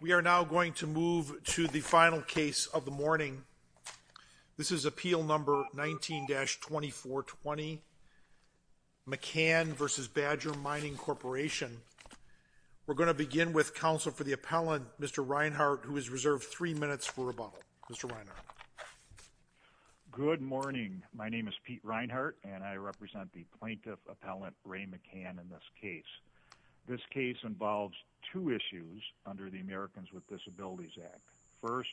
We are now going to move to the final case of the morning. This is appeal number 19-2420, McCann v. Badger Mining Corporation. We're going to begin with counsel for the appellant, Mr. Reinhardt, who is reserved three minutes for rebuttal. Mr. Reinhardt. Good morning. My name is Pete Reinhardt, and I represent the plaintiff appellant, Ray McCann, in this case. This case involves two issues under the Americans with Disabilities Act. First,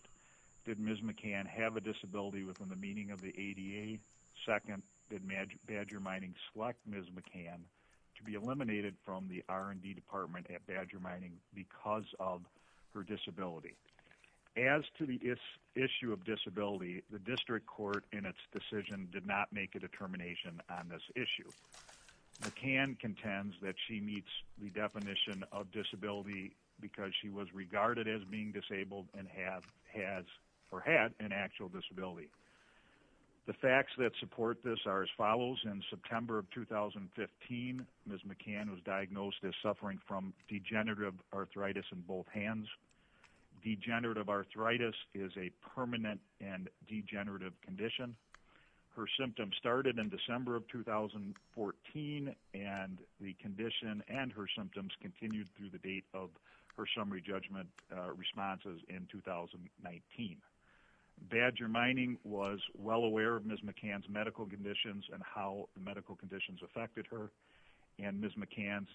did Ms. McCann have a disability within the meaning of the ADA? Second, did Badger Mining select Ms. McCann to be eliminated from the R&D department at Badger Mining because of her disability? As to the issue of disability, the district court in its decision did not make a determination on this issue. McCann contends that she meets the definition of disability because she was regarded as being disabled and had an actual disability. The facts that support this are as follows. In September of 2015, Ms. McCann was diagnosed as suffering from degenerative arthritis in both hands. Degenerative arthritis is a permanent and degenerative condition. Her symptoms started in December of 2014, and the condition and her symptoms continued through the date of her summary judgment responses in 2019. Badger Mining was well aware of Ms. McCann's medical conditions and how the medical conditions affected her, and Ms. McCann's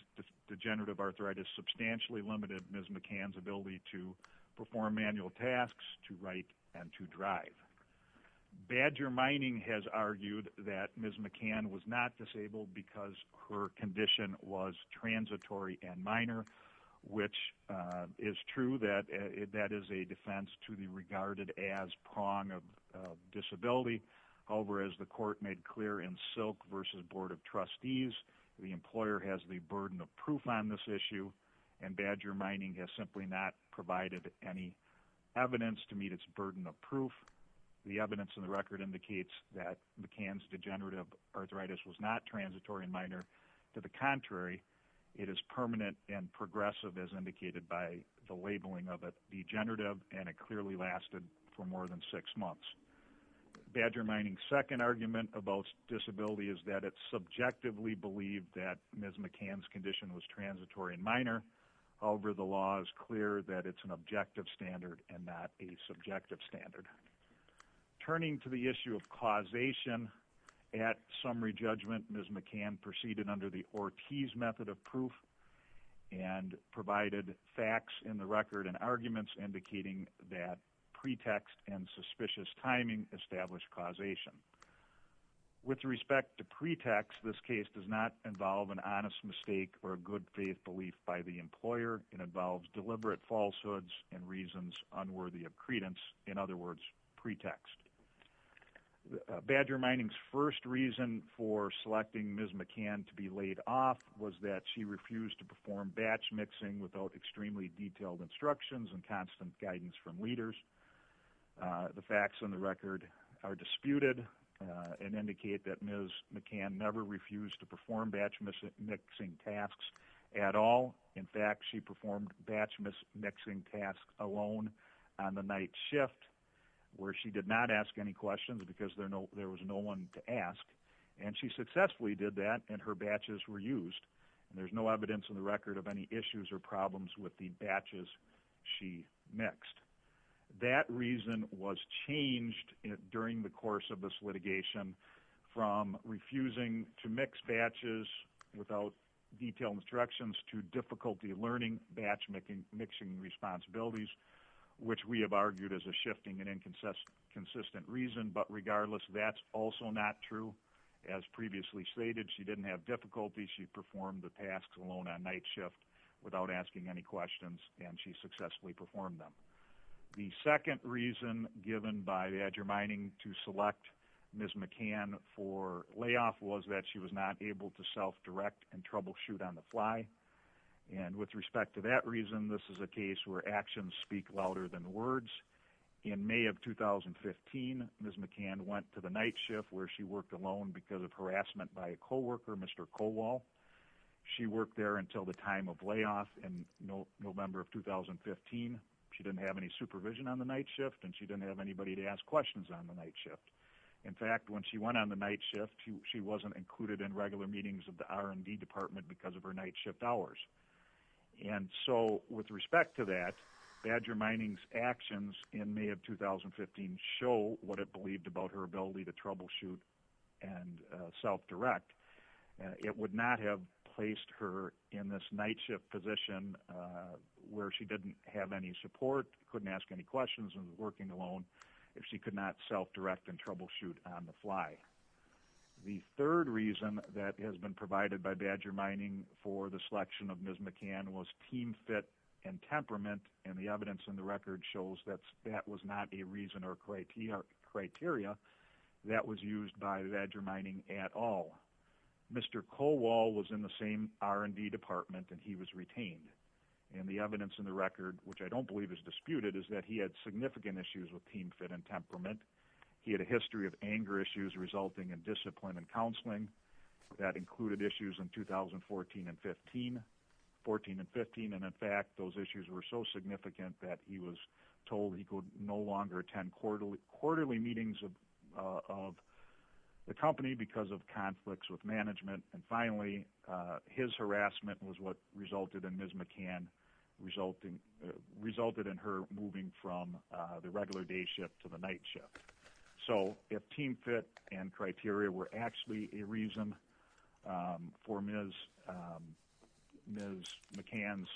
degenerative arthritis substantially limited Ms. McCann's ability to perform manual tasks, to write, and to drive. Badger Mining has argued that Ms. McCann was not disabled because her condition was transitory and minor, which is true that that is a defense to be regarded as prong of disability. However, as the court made clear in Silk v. Board of Trustees, the employer has the burden of proof on this issue, and Badger Mining has simply not provided any evidence to meet its burden of proof. The evidence in the record indicates that McCann's degenerative arthritis was not transitory and minor. To the contrary, it is permanent and progressive, as indicated by the labeling of it degenerative, and it clearly lasted for more than six months. Badger Mining's second argument about disability is that it's subjectively believed that Ms. McCann's condition was transitory and minor. However, the law is clear that it's an objective standard and not a subjective standard. Turning to the issue of causation at summary judgment, Ms. McCann proceeded under the Ortiz method of proof and provided facts in the record and arguments indicating that pretext and suspicious timing established causation. With respect to pretext, this case does not involve an honest mistake or a good faith belief by the employer. It involves deliberate falsehoods and reasons unworthy of credence, in other words, pretext. Badger Mining's first reason for selecting Ms. McCann to be laid off was that she refused to perform batch mixing without extremely detailed instructions and constant guidance from leaders. The facts in the record are disputed and indicate that Ms. McCann never refused to perform batch mixing tasks at all. In fact, she performed batch mixing tasks alone on the night shift where she did not ask any questions because there was no one to ask, and she successfully did that and her batches were used. There's no evidence in the record of any issues or problems with the batches she mixed. That reason was changed during the course of this litigation from refusing to mix batches without detailed instructions to difficulty learning batch mixing responsibilities, which we have argued is a shifting and inconsistent reason, but regardless, that's also not true. As previously stated, she didn't have difficulties. She performed the tasks alone on night shift without asking any questions, and she successfully performed them. The second reason given by Badger Mining to select Ms. McCann for layoff was that she was not able to self-direct and troubleshoot on the fly, and with respect to that reason, this is a case where actions speak louder than words. In May of 2015, Ms. McCann went to the night shift where she worked alone because of harassment by a coworker, Mr. Kowal. She worked there until the time of layoff in November of 2015. She didn't have any supervision on the night shift, and she didn't have anybody to ask questions on the night shift. In fact, when she went on the night shift, she wasn't included in regular meetings of the R&D department because of her night shift hours. And so with respect to that, Badger Mining's actions in May of 2015 show what it believed about her ability to troubleshoot and self-direct. It would not have placed her in this night shift position where she didn't have any support, couldn't ask any questions, and was working alone if she could not self-direct and troubleshoot on the fly. The third reason that has been provided by Badger Mining for the selection of Ms. McCann was team fit and temperament, and the evidence in the record shows that that was not a reason or criteria that was used by Badger Mining at all. Mr. Kowal was in the same R&D department, and he was retained. And the evidence in the record, which I don't believe is disputed, is that he had significant issues with team fit and temperament. He had a history of anger issues resulting in discipline and counseling. That included issues in 2014 and 15, and in fact, those issues were so significant that he was told he could no longer attend quarterly meetings of the company because of conflicts with management. And finally, his harassment was what resulted in Ms. McCann – resulted in her moving from the regular day shift to the night shift. So if team fit and criteria were actually a reason for Ms. McCann's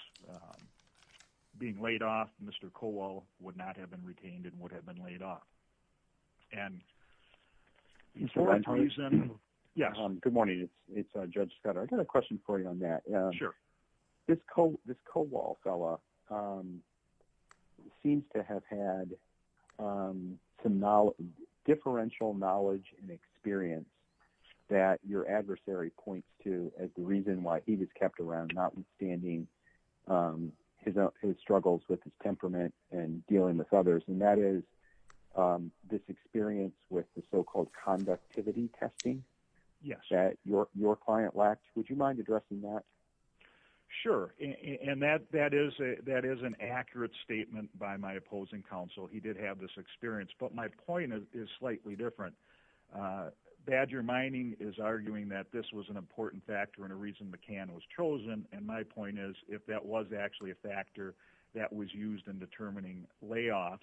being laid off, Mr. Kowal would not have been retained and would have been laid off. And for that reason – yes. Good morning. It's Judge Scott. I've got a question for you on that. Sure. This Kowal fellow seems to have had some differential knowledge and experience that your adversary points to as the reason why he was kept around, notwithstanding his struggles with his temperament and dealing with others. And that is this experience with the so-called conductivity testing that your client lacked. Would you mind addressing that? Sure. And that is an accurate statement by my opposing counsel. He did have this experience. But my point is slightly different. Badger Mining is arguing that this was an important factor and a reason McCann was chosen. And my point is if that was actually a factor that was used in determining layoffs,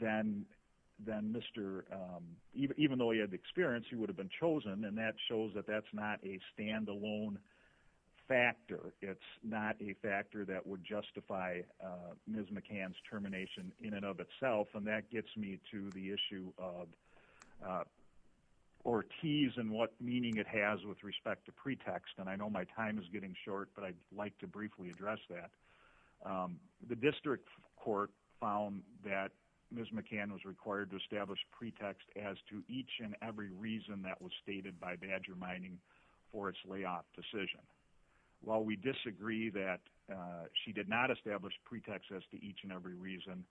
then Mr. – even though he had experience, he would have been chosen. And that shows that that's not a standalone factor. It's not a factor that would justify Ms. McCann's termination in and of itself. And that gets me to the issue of – or tease in what meaning it has with respect to pretext. And I know my time is getting short, but I'd like to briefly address that. The district court found that Ms. McCann was required to establish pretext as to each and every reason that was stated by Badger Mining for its layoff decision. While we disagree that she did not establish pretext as to each and every reason,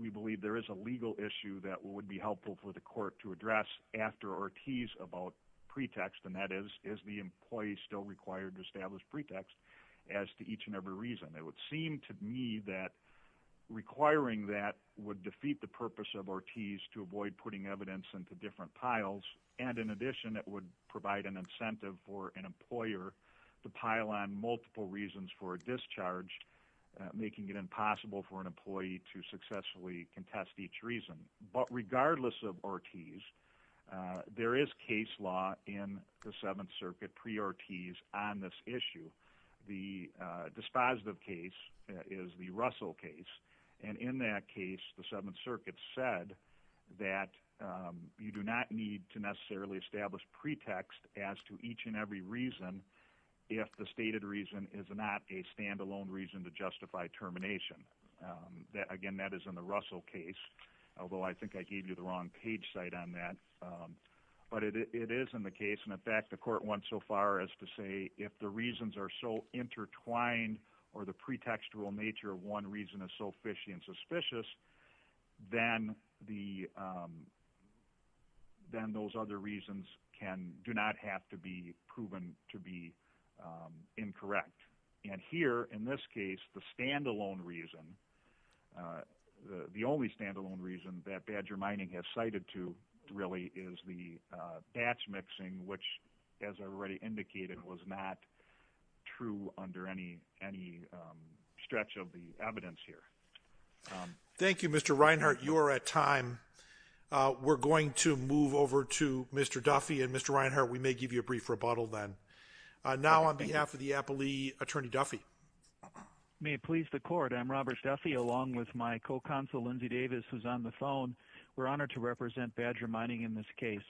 we believe there is a legal issue that would be helpful for the court to address after or tease about pretext. And that is, is the employee still required to establish pretext as to each and every reason? It would seem to me that requiring that would defeat the purpose of or tease to avoid putting evidence into different piles. And in addition, it would provide an incentive for an employer to pile on multiple reasons for a discharge, making it impossible for an employee to successfully contest each reason. But regardless of or tease, there is case law in the Seventh Circuit pre or tease on this issue. The dispositive case is the Russell case. And in that case, the Seventh Circuit said that you do not need to necessarily establish pretext as to each and every reason if the stated reason is not a standalone reason to justify termination. Again, that is in the Russell case, although I think I gave you the wrong page site on that. But it is in the case. And in fact, the court went so far as to say if the reasons are so intertwined or the pretextual nature of one reason is so fishy and suspicious, then those other reasons do not have to be proven to be incorrect. And here, in this case, the standalone reason, the only standalone reason that Badger Mining has cited to really is the batch mixing, which, as I already indicated, was not true under any stretch of the evidence here. Thank you, Mr. Reinhart. You are at time. We're going to move over to Mr. Duffy and Mr. Reinhart. We may give you a brief rebuttal then. Now, on behalf of the Appellee, Attorney Duffy. May it please the court, I'm Robert Duffy, along with my co-counsel, Lindsay Davis, who's on the phone. We're honored to represent Badger Mining in this case.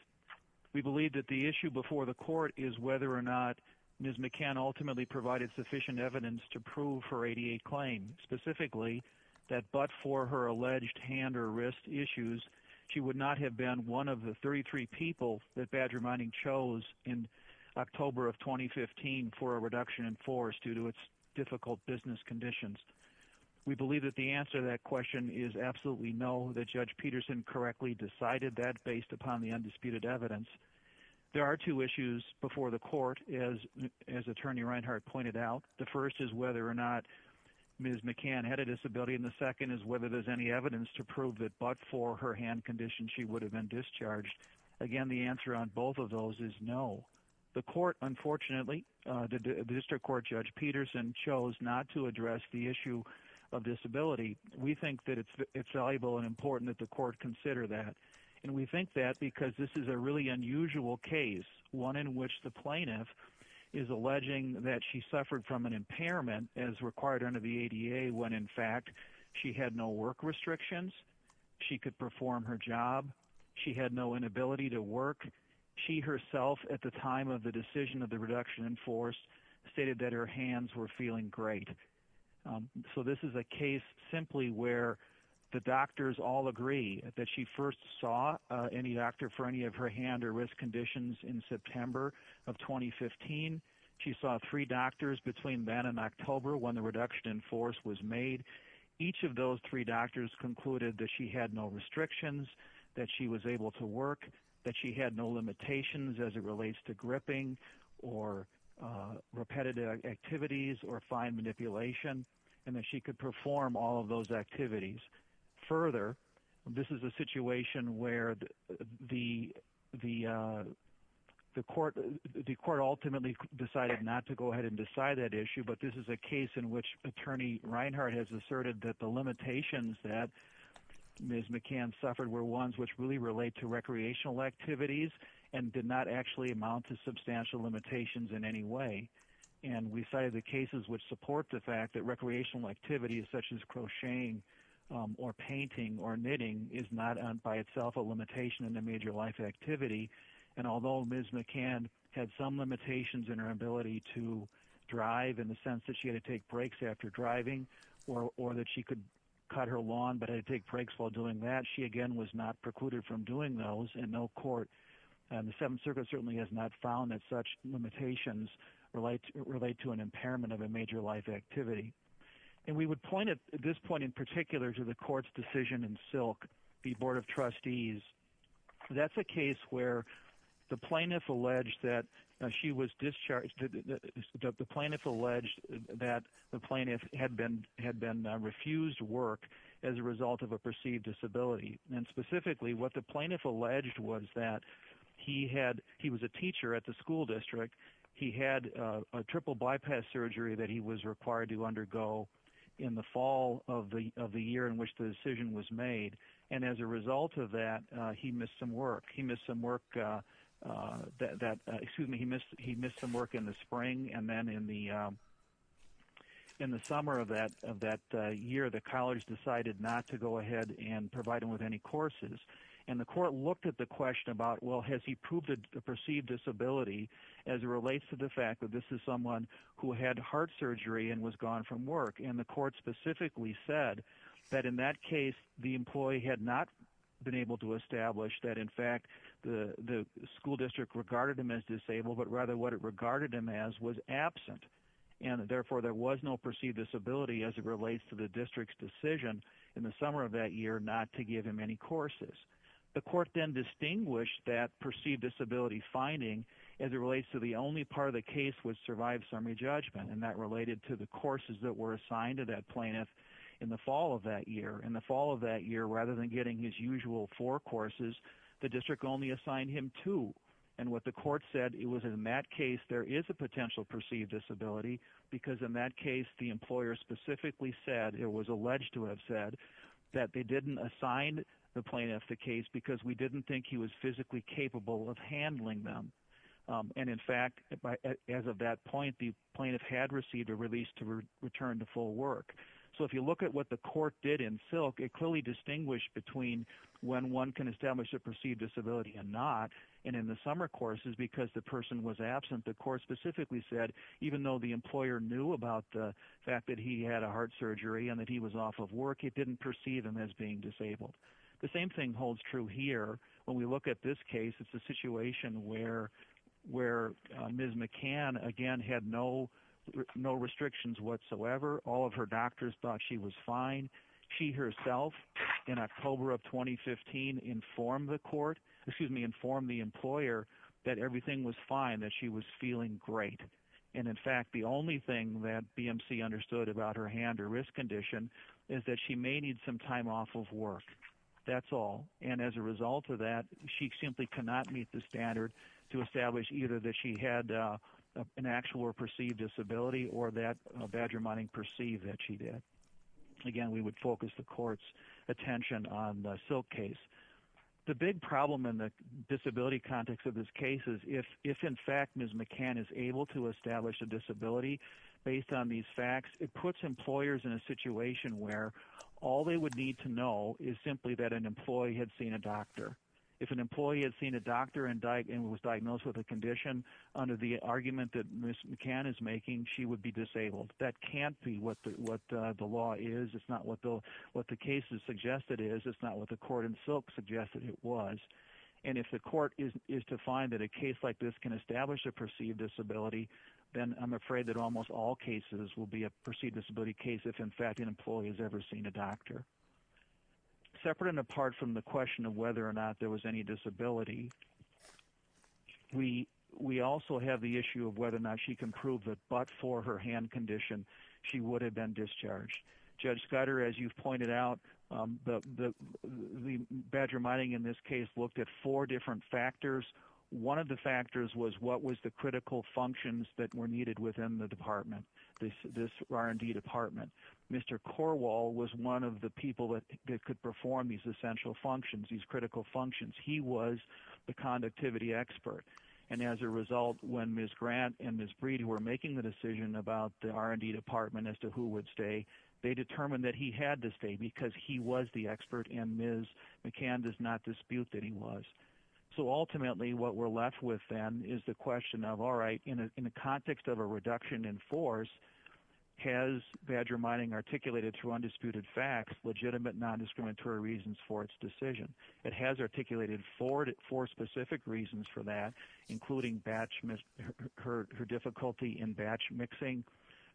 We believe that the issue before the court is whether or not Ms. McCann ultimately provided sufficient evidence to prove her 88 claim, specifically that but for her alleged hand or wrist issues, she would not have been one of the 33 people that Badger Mining chose in October of 2015 for a reduction in force due to its difficult business conditions. We believe that the answer to that question is absolutely no, that Judge Peterson correctly decided that based upon the undisputed evidence. There are two issues before the court, as Attorney Reinhart pointed out. The first is whether or not Ms. McCann had a disability, and the second is whether there's any evidence to prove that but for her hand condition, she would have been discharged. Again, the answer on both of those is no. The court, unfortunately, the District Court Judge Peterson chose not to address the issue of disability. We think that it's valuable and important that the court consider that. And we think that because this is a really unusual case, one in which the plaintiff is alleging that she suffered from an impairment as required under the ADA when, in fact, she had no work restrictions. She could perform her job. She had no inability to work. She herself, at the time of the decision of the reduction in force, stated that her hands were feeling great. So this is a case simply where the doctors all agree that she first saw any doctor for any of her hand or wrist conditions in September of 2015. She saw three doctors between then and October when the reduction in force was made. Each of those three doctors concluded that she had no restrictions, that she was able to work, that she had no limitations as it relates to gripping or repetitive activities or fine manipulation, and that she could perform all of those activities. Further, this is a situation where the court ultimately decided not to go ahead and decide that issue. But this is a case in which Attorney Reinhart has asserted that the limitations that Ms. McCann suffered were ones which really relate to recreational activities and did not actually amount to substantial limitations in any way. And we cited the cases which support the fact that recreational activities such as crocheting or painting or knitting is not by itself a limitation in a major life activity. And although Ms. McCann had some limitations in her ability to drive in the sense that she had to take breaks after driving or that she could cut her lawn but had to take breaks while doing that, she, again, was not precluded from doing those in no court. And the Seventh Circuit certainly has not found that such limitations relate to an impairment of a major life activity. And we would point at this point in particular to the court's decision in Silk v. Board of Trustees. That's a case where the plaintiff alleged that she was discharged – the plaintiff alleged that the plaintiff had been refused work as a result of a perceived disability. And specifically, what the plaintiff alleged was that he had – he was a teacher at the school district. He had a triple bypass surgery that he was required to undergo in the fall of the year in which the decision was made. And as a result of that, he missed some work. He missed some work that – excuse me, he missed some work in the spring. And then in the summer of that year, the college decided not to go ahead and provide him with any courses. And the court looked at the question about, well, has he proved a perceived disability as it relates to the fact that this is someone who had heart surgery and was gone from work? And the court specifically said that in that case, the employee had not been able to establish that, in fact, the school district regarded him as disabled, but rather what it regarded him as was absent. And therefore, there was no perceived disability as it relates to the district's decision in the summer of that year not to give him any courses. The court then distinguished that perceived disability finding as it relates to the only part of the case which survived summary judgment, and that related to the courses that were assigned to that plaintiff in the fall of that year. In the fall of that year, rather than getting his usual four courses, the district only assigned him two. And what the court said, it was in that case there is a potential perceived disability because in that case the employer specifically said, it was alleged to have said, that they didn't assign the plaintiff the case because we didn't think he was physically capable of handling them. And in fact, as of that point, the plaintiff had received a release to return to full work. So if you look at what the court did in silk, it clearly distinguished between when one can establish a perceived disability and not. And in the summer courses, because the person was absent, the court specifically said, even though the employer knew about the fact that he had a heart surgery and that he was off of work, it didn't perceive him as being disabled. The same thing holds true here. When we look at this case, it's a situation where Ms. McCann, again, had no restrictions whatsoever. All of her doctors thought she was fine. She herself, in October of 2015, informed the court, excuse me, informed the employer that everything was fine, that she was feeling great. And in fact, the only thing that BMC understood about her hand or wrist condition is that she may need some time off of work. That's all. And as a result of that, she simply cannot meet the standard to establish either that she had an actual or perceived disability or that badger mining perceived that she did. Again, we would focus the court's attention on the silk case. The big problem in the disability context of this case is if in fact Ms. McCann is able to establish a disability based on these facts, it puts employers in a situation where all they would need to know is simply that an employee had seen a doctor. If an employee had seen a doctor and was diagnosed with a condition under the argument that Ms. McCann is making, she would be disabled. That can't be what the law is. It's not what the case has suggested is. It's not what the court in silk suggested it was. And if the court is to find that a case like this can establish a perceived disability, then I'm afraid that almost all cases will be a perceived disability case if in fact an employee has ever seen a doctor. Separate and apart from the question of whether or not there was any disability, we also have the issue of whether or not she can prove that but for her hand condition, she would have been discharged. Judge Scudder, as you've pointed out, the badger mining in this case looked at four different factors. One of the factors was what was the critical functions that were needed within the department, this R&D department. Mr. Corwall was one of the people that could perform these essential functions, these critical functions. He was the conductivity expert. And as a result, when Ms. Grant and Ms. Breed were making the decision about the R&D department as to who would stay, they determined that he had to stay because he was the expert and Ms. McCann does not dispute that he was. So ultimately what we're left with then is the question of, all right, in the context of a reduction in force, has badger mining articulated through undisputed facts legitimate non-discriminatory reasons for its decision? It has articulated four specific reasons for that, including her difficulty in batch mixing,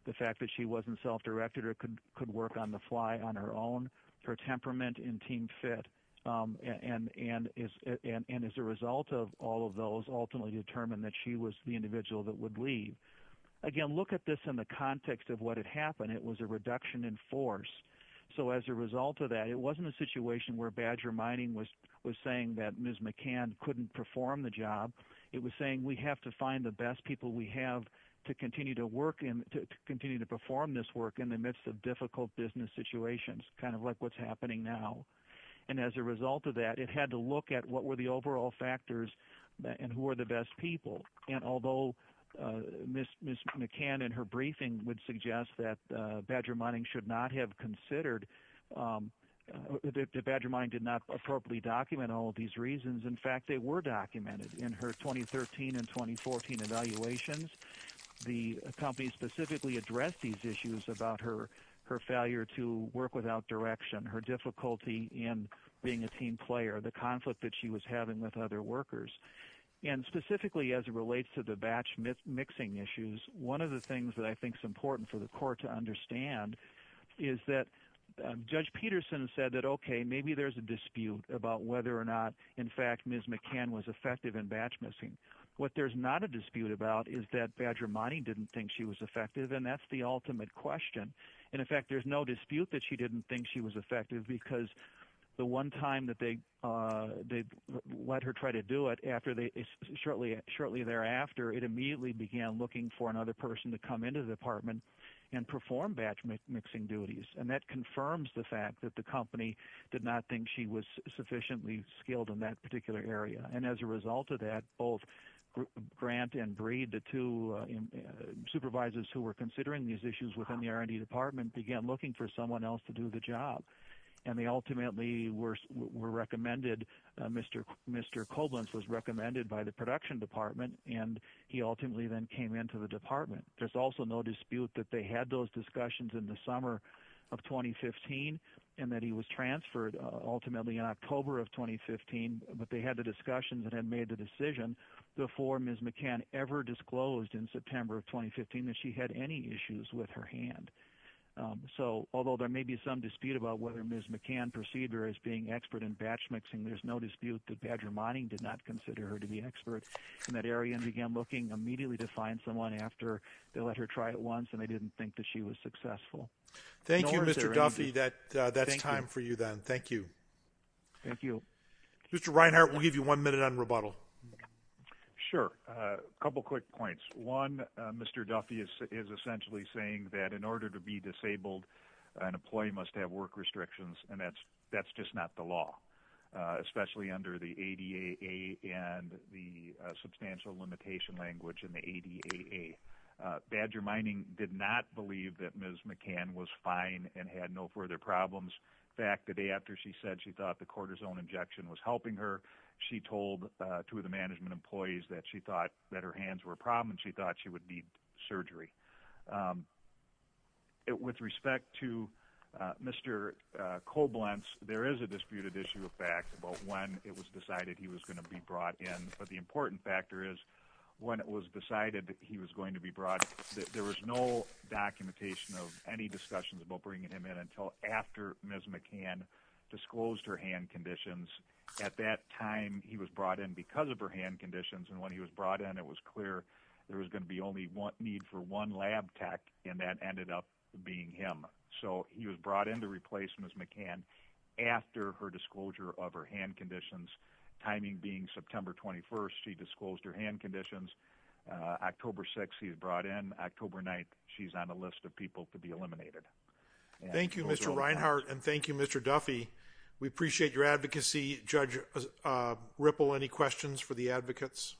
the fact that she wasn't self-directed or could work on the fly on her own, her temperament in team fit, and as a result of all of those ultimately determined that she was the individual that would leave. Again, look at this in the context of what had happened. It was a reduction in force. So as a result of that, it wasn't a situation where badger mining was saying that Ms. McCann couldn't perform the job. It was saying we have to find the best people we have to continue to work and to continue to perform this work in the midst of difficult business situations, kind of like what's happening now. And as a result of that, it had to look at what were the overall factors and who are the best people. And although Ms. McCann in her briefing would suggest that badger mining should not have considered, that badger mining did not appropriately document all of these reasons, in fact, they were documented in her 2013 and 2014 evaluations. The company specifically addressed these issues about her failure to work without direction, her difficulty in being a team player, the conflict that she was having with other workers. And specifically as it relates to the batch mixing issues, one of the things that I think is important for the court to understand is that Judge Peterson said that, okay, maybe there's a dispute about whether or not, in fact, Ms. McCann was effective in batch mixing. What there's not a dispute about is that badger mining didn't think she was effective, and that's the ultimate question. In effect, there's no dispute that she didn't think she was effective because the one time that they let her try to do it, shortly thereafter, it immediately began looking for another person to come into the department and perform batch mixing duties. And that confirms the fact that the company did not think she was sufficiently skilled in that particular area. And as a result of that, both Grant and Breed, the two supervisors who were considering these issues within the R&D department, began looking for someone else to do the job. And they ultimately were recommended, Mr. Koblentz was recommended by the production department, and he ultimately then came into the department. There's also no dispute that they had those discussions in the summer of 2015, and that he was transferred ultimately in October of 2015, but they had the discussions and had made the decision before Ms. McCann ever disclosed in September of 2015 that she had any issues with her hand. So, although there may be some dispute about whether Ms. McCann perceived her as being expert in batch mixing, there's no dispute that badger mining did not consider her to be an expert, and that Ariane began looking immediately to find someone after they let her try it once, and they didn't think that she was successful. Thank you, Mr. Duffy, that's time for you then. Thank you. Thank you. Mr. Reinhart, we'll give you one minute on rebuttal. Sure. A couple quick points. One, Mr. Duffy is essentially saying that in order to be disabled, an employee must have work restrictions, and that's just not the law, especially under the ADAA and the substantial limitation language in the ADAA. Badger mining did not believe that Ms. McCann was fine and had no further problems. In fact, the day after she said she thought the cortisone injection was helping her, she told two of the management employees that she thought that her hands were a problem and she thought she would need surgery. With respect to Mr. Koblentz, there is a disputed issue of fact about when it was decided he was going to be brought in, but the important factor is when it was decided that he was going to be brought in, there was no documentation of any discussions about bringing him in until after Ms. McCann disclosed her hand conditions. At that time, he was brought in because of her hand conditions, and when he was brought in, it was clear there was going to be only need for one lab tech, and that ended up being him. So, he was brought in to replace Ms. McCann after her disclosure of her hand conditions, timing being September 21st. She disclosed her hand conditions. October 6th, he was brought in. October 9th, she's on a list of people to be eliminated. Thank you, Mr. Reinhart, and thank you, Mr. Duffy. We appreciate your advocacy. Judge Ripple, any questions for the advocates?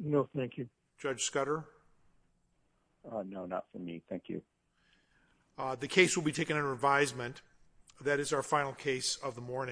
No, thank you. Judge Scudder? No, not for me. Thank you. The case will be taken under advisement. That is our final case of the morning.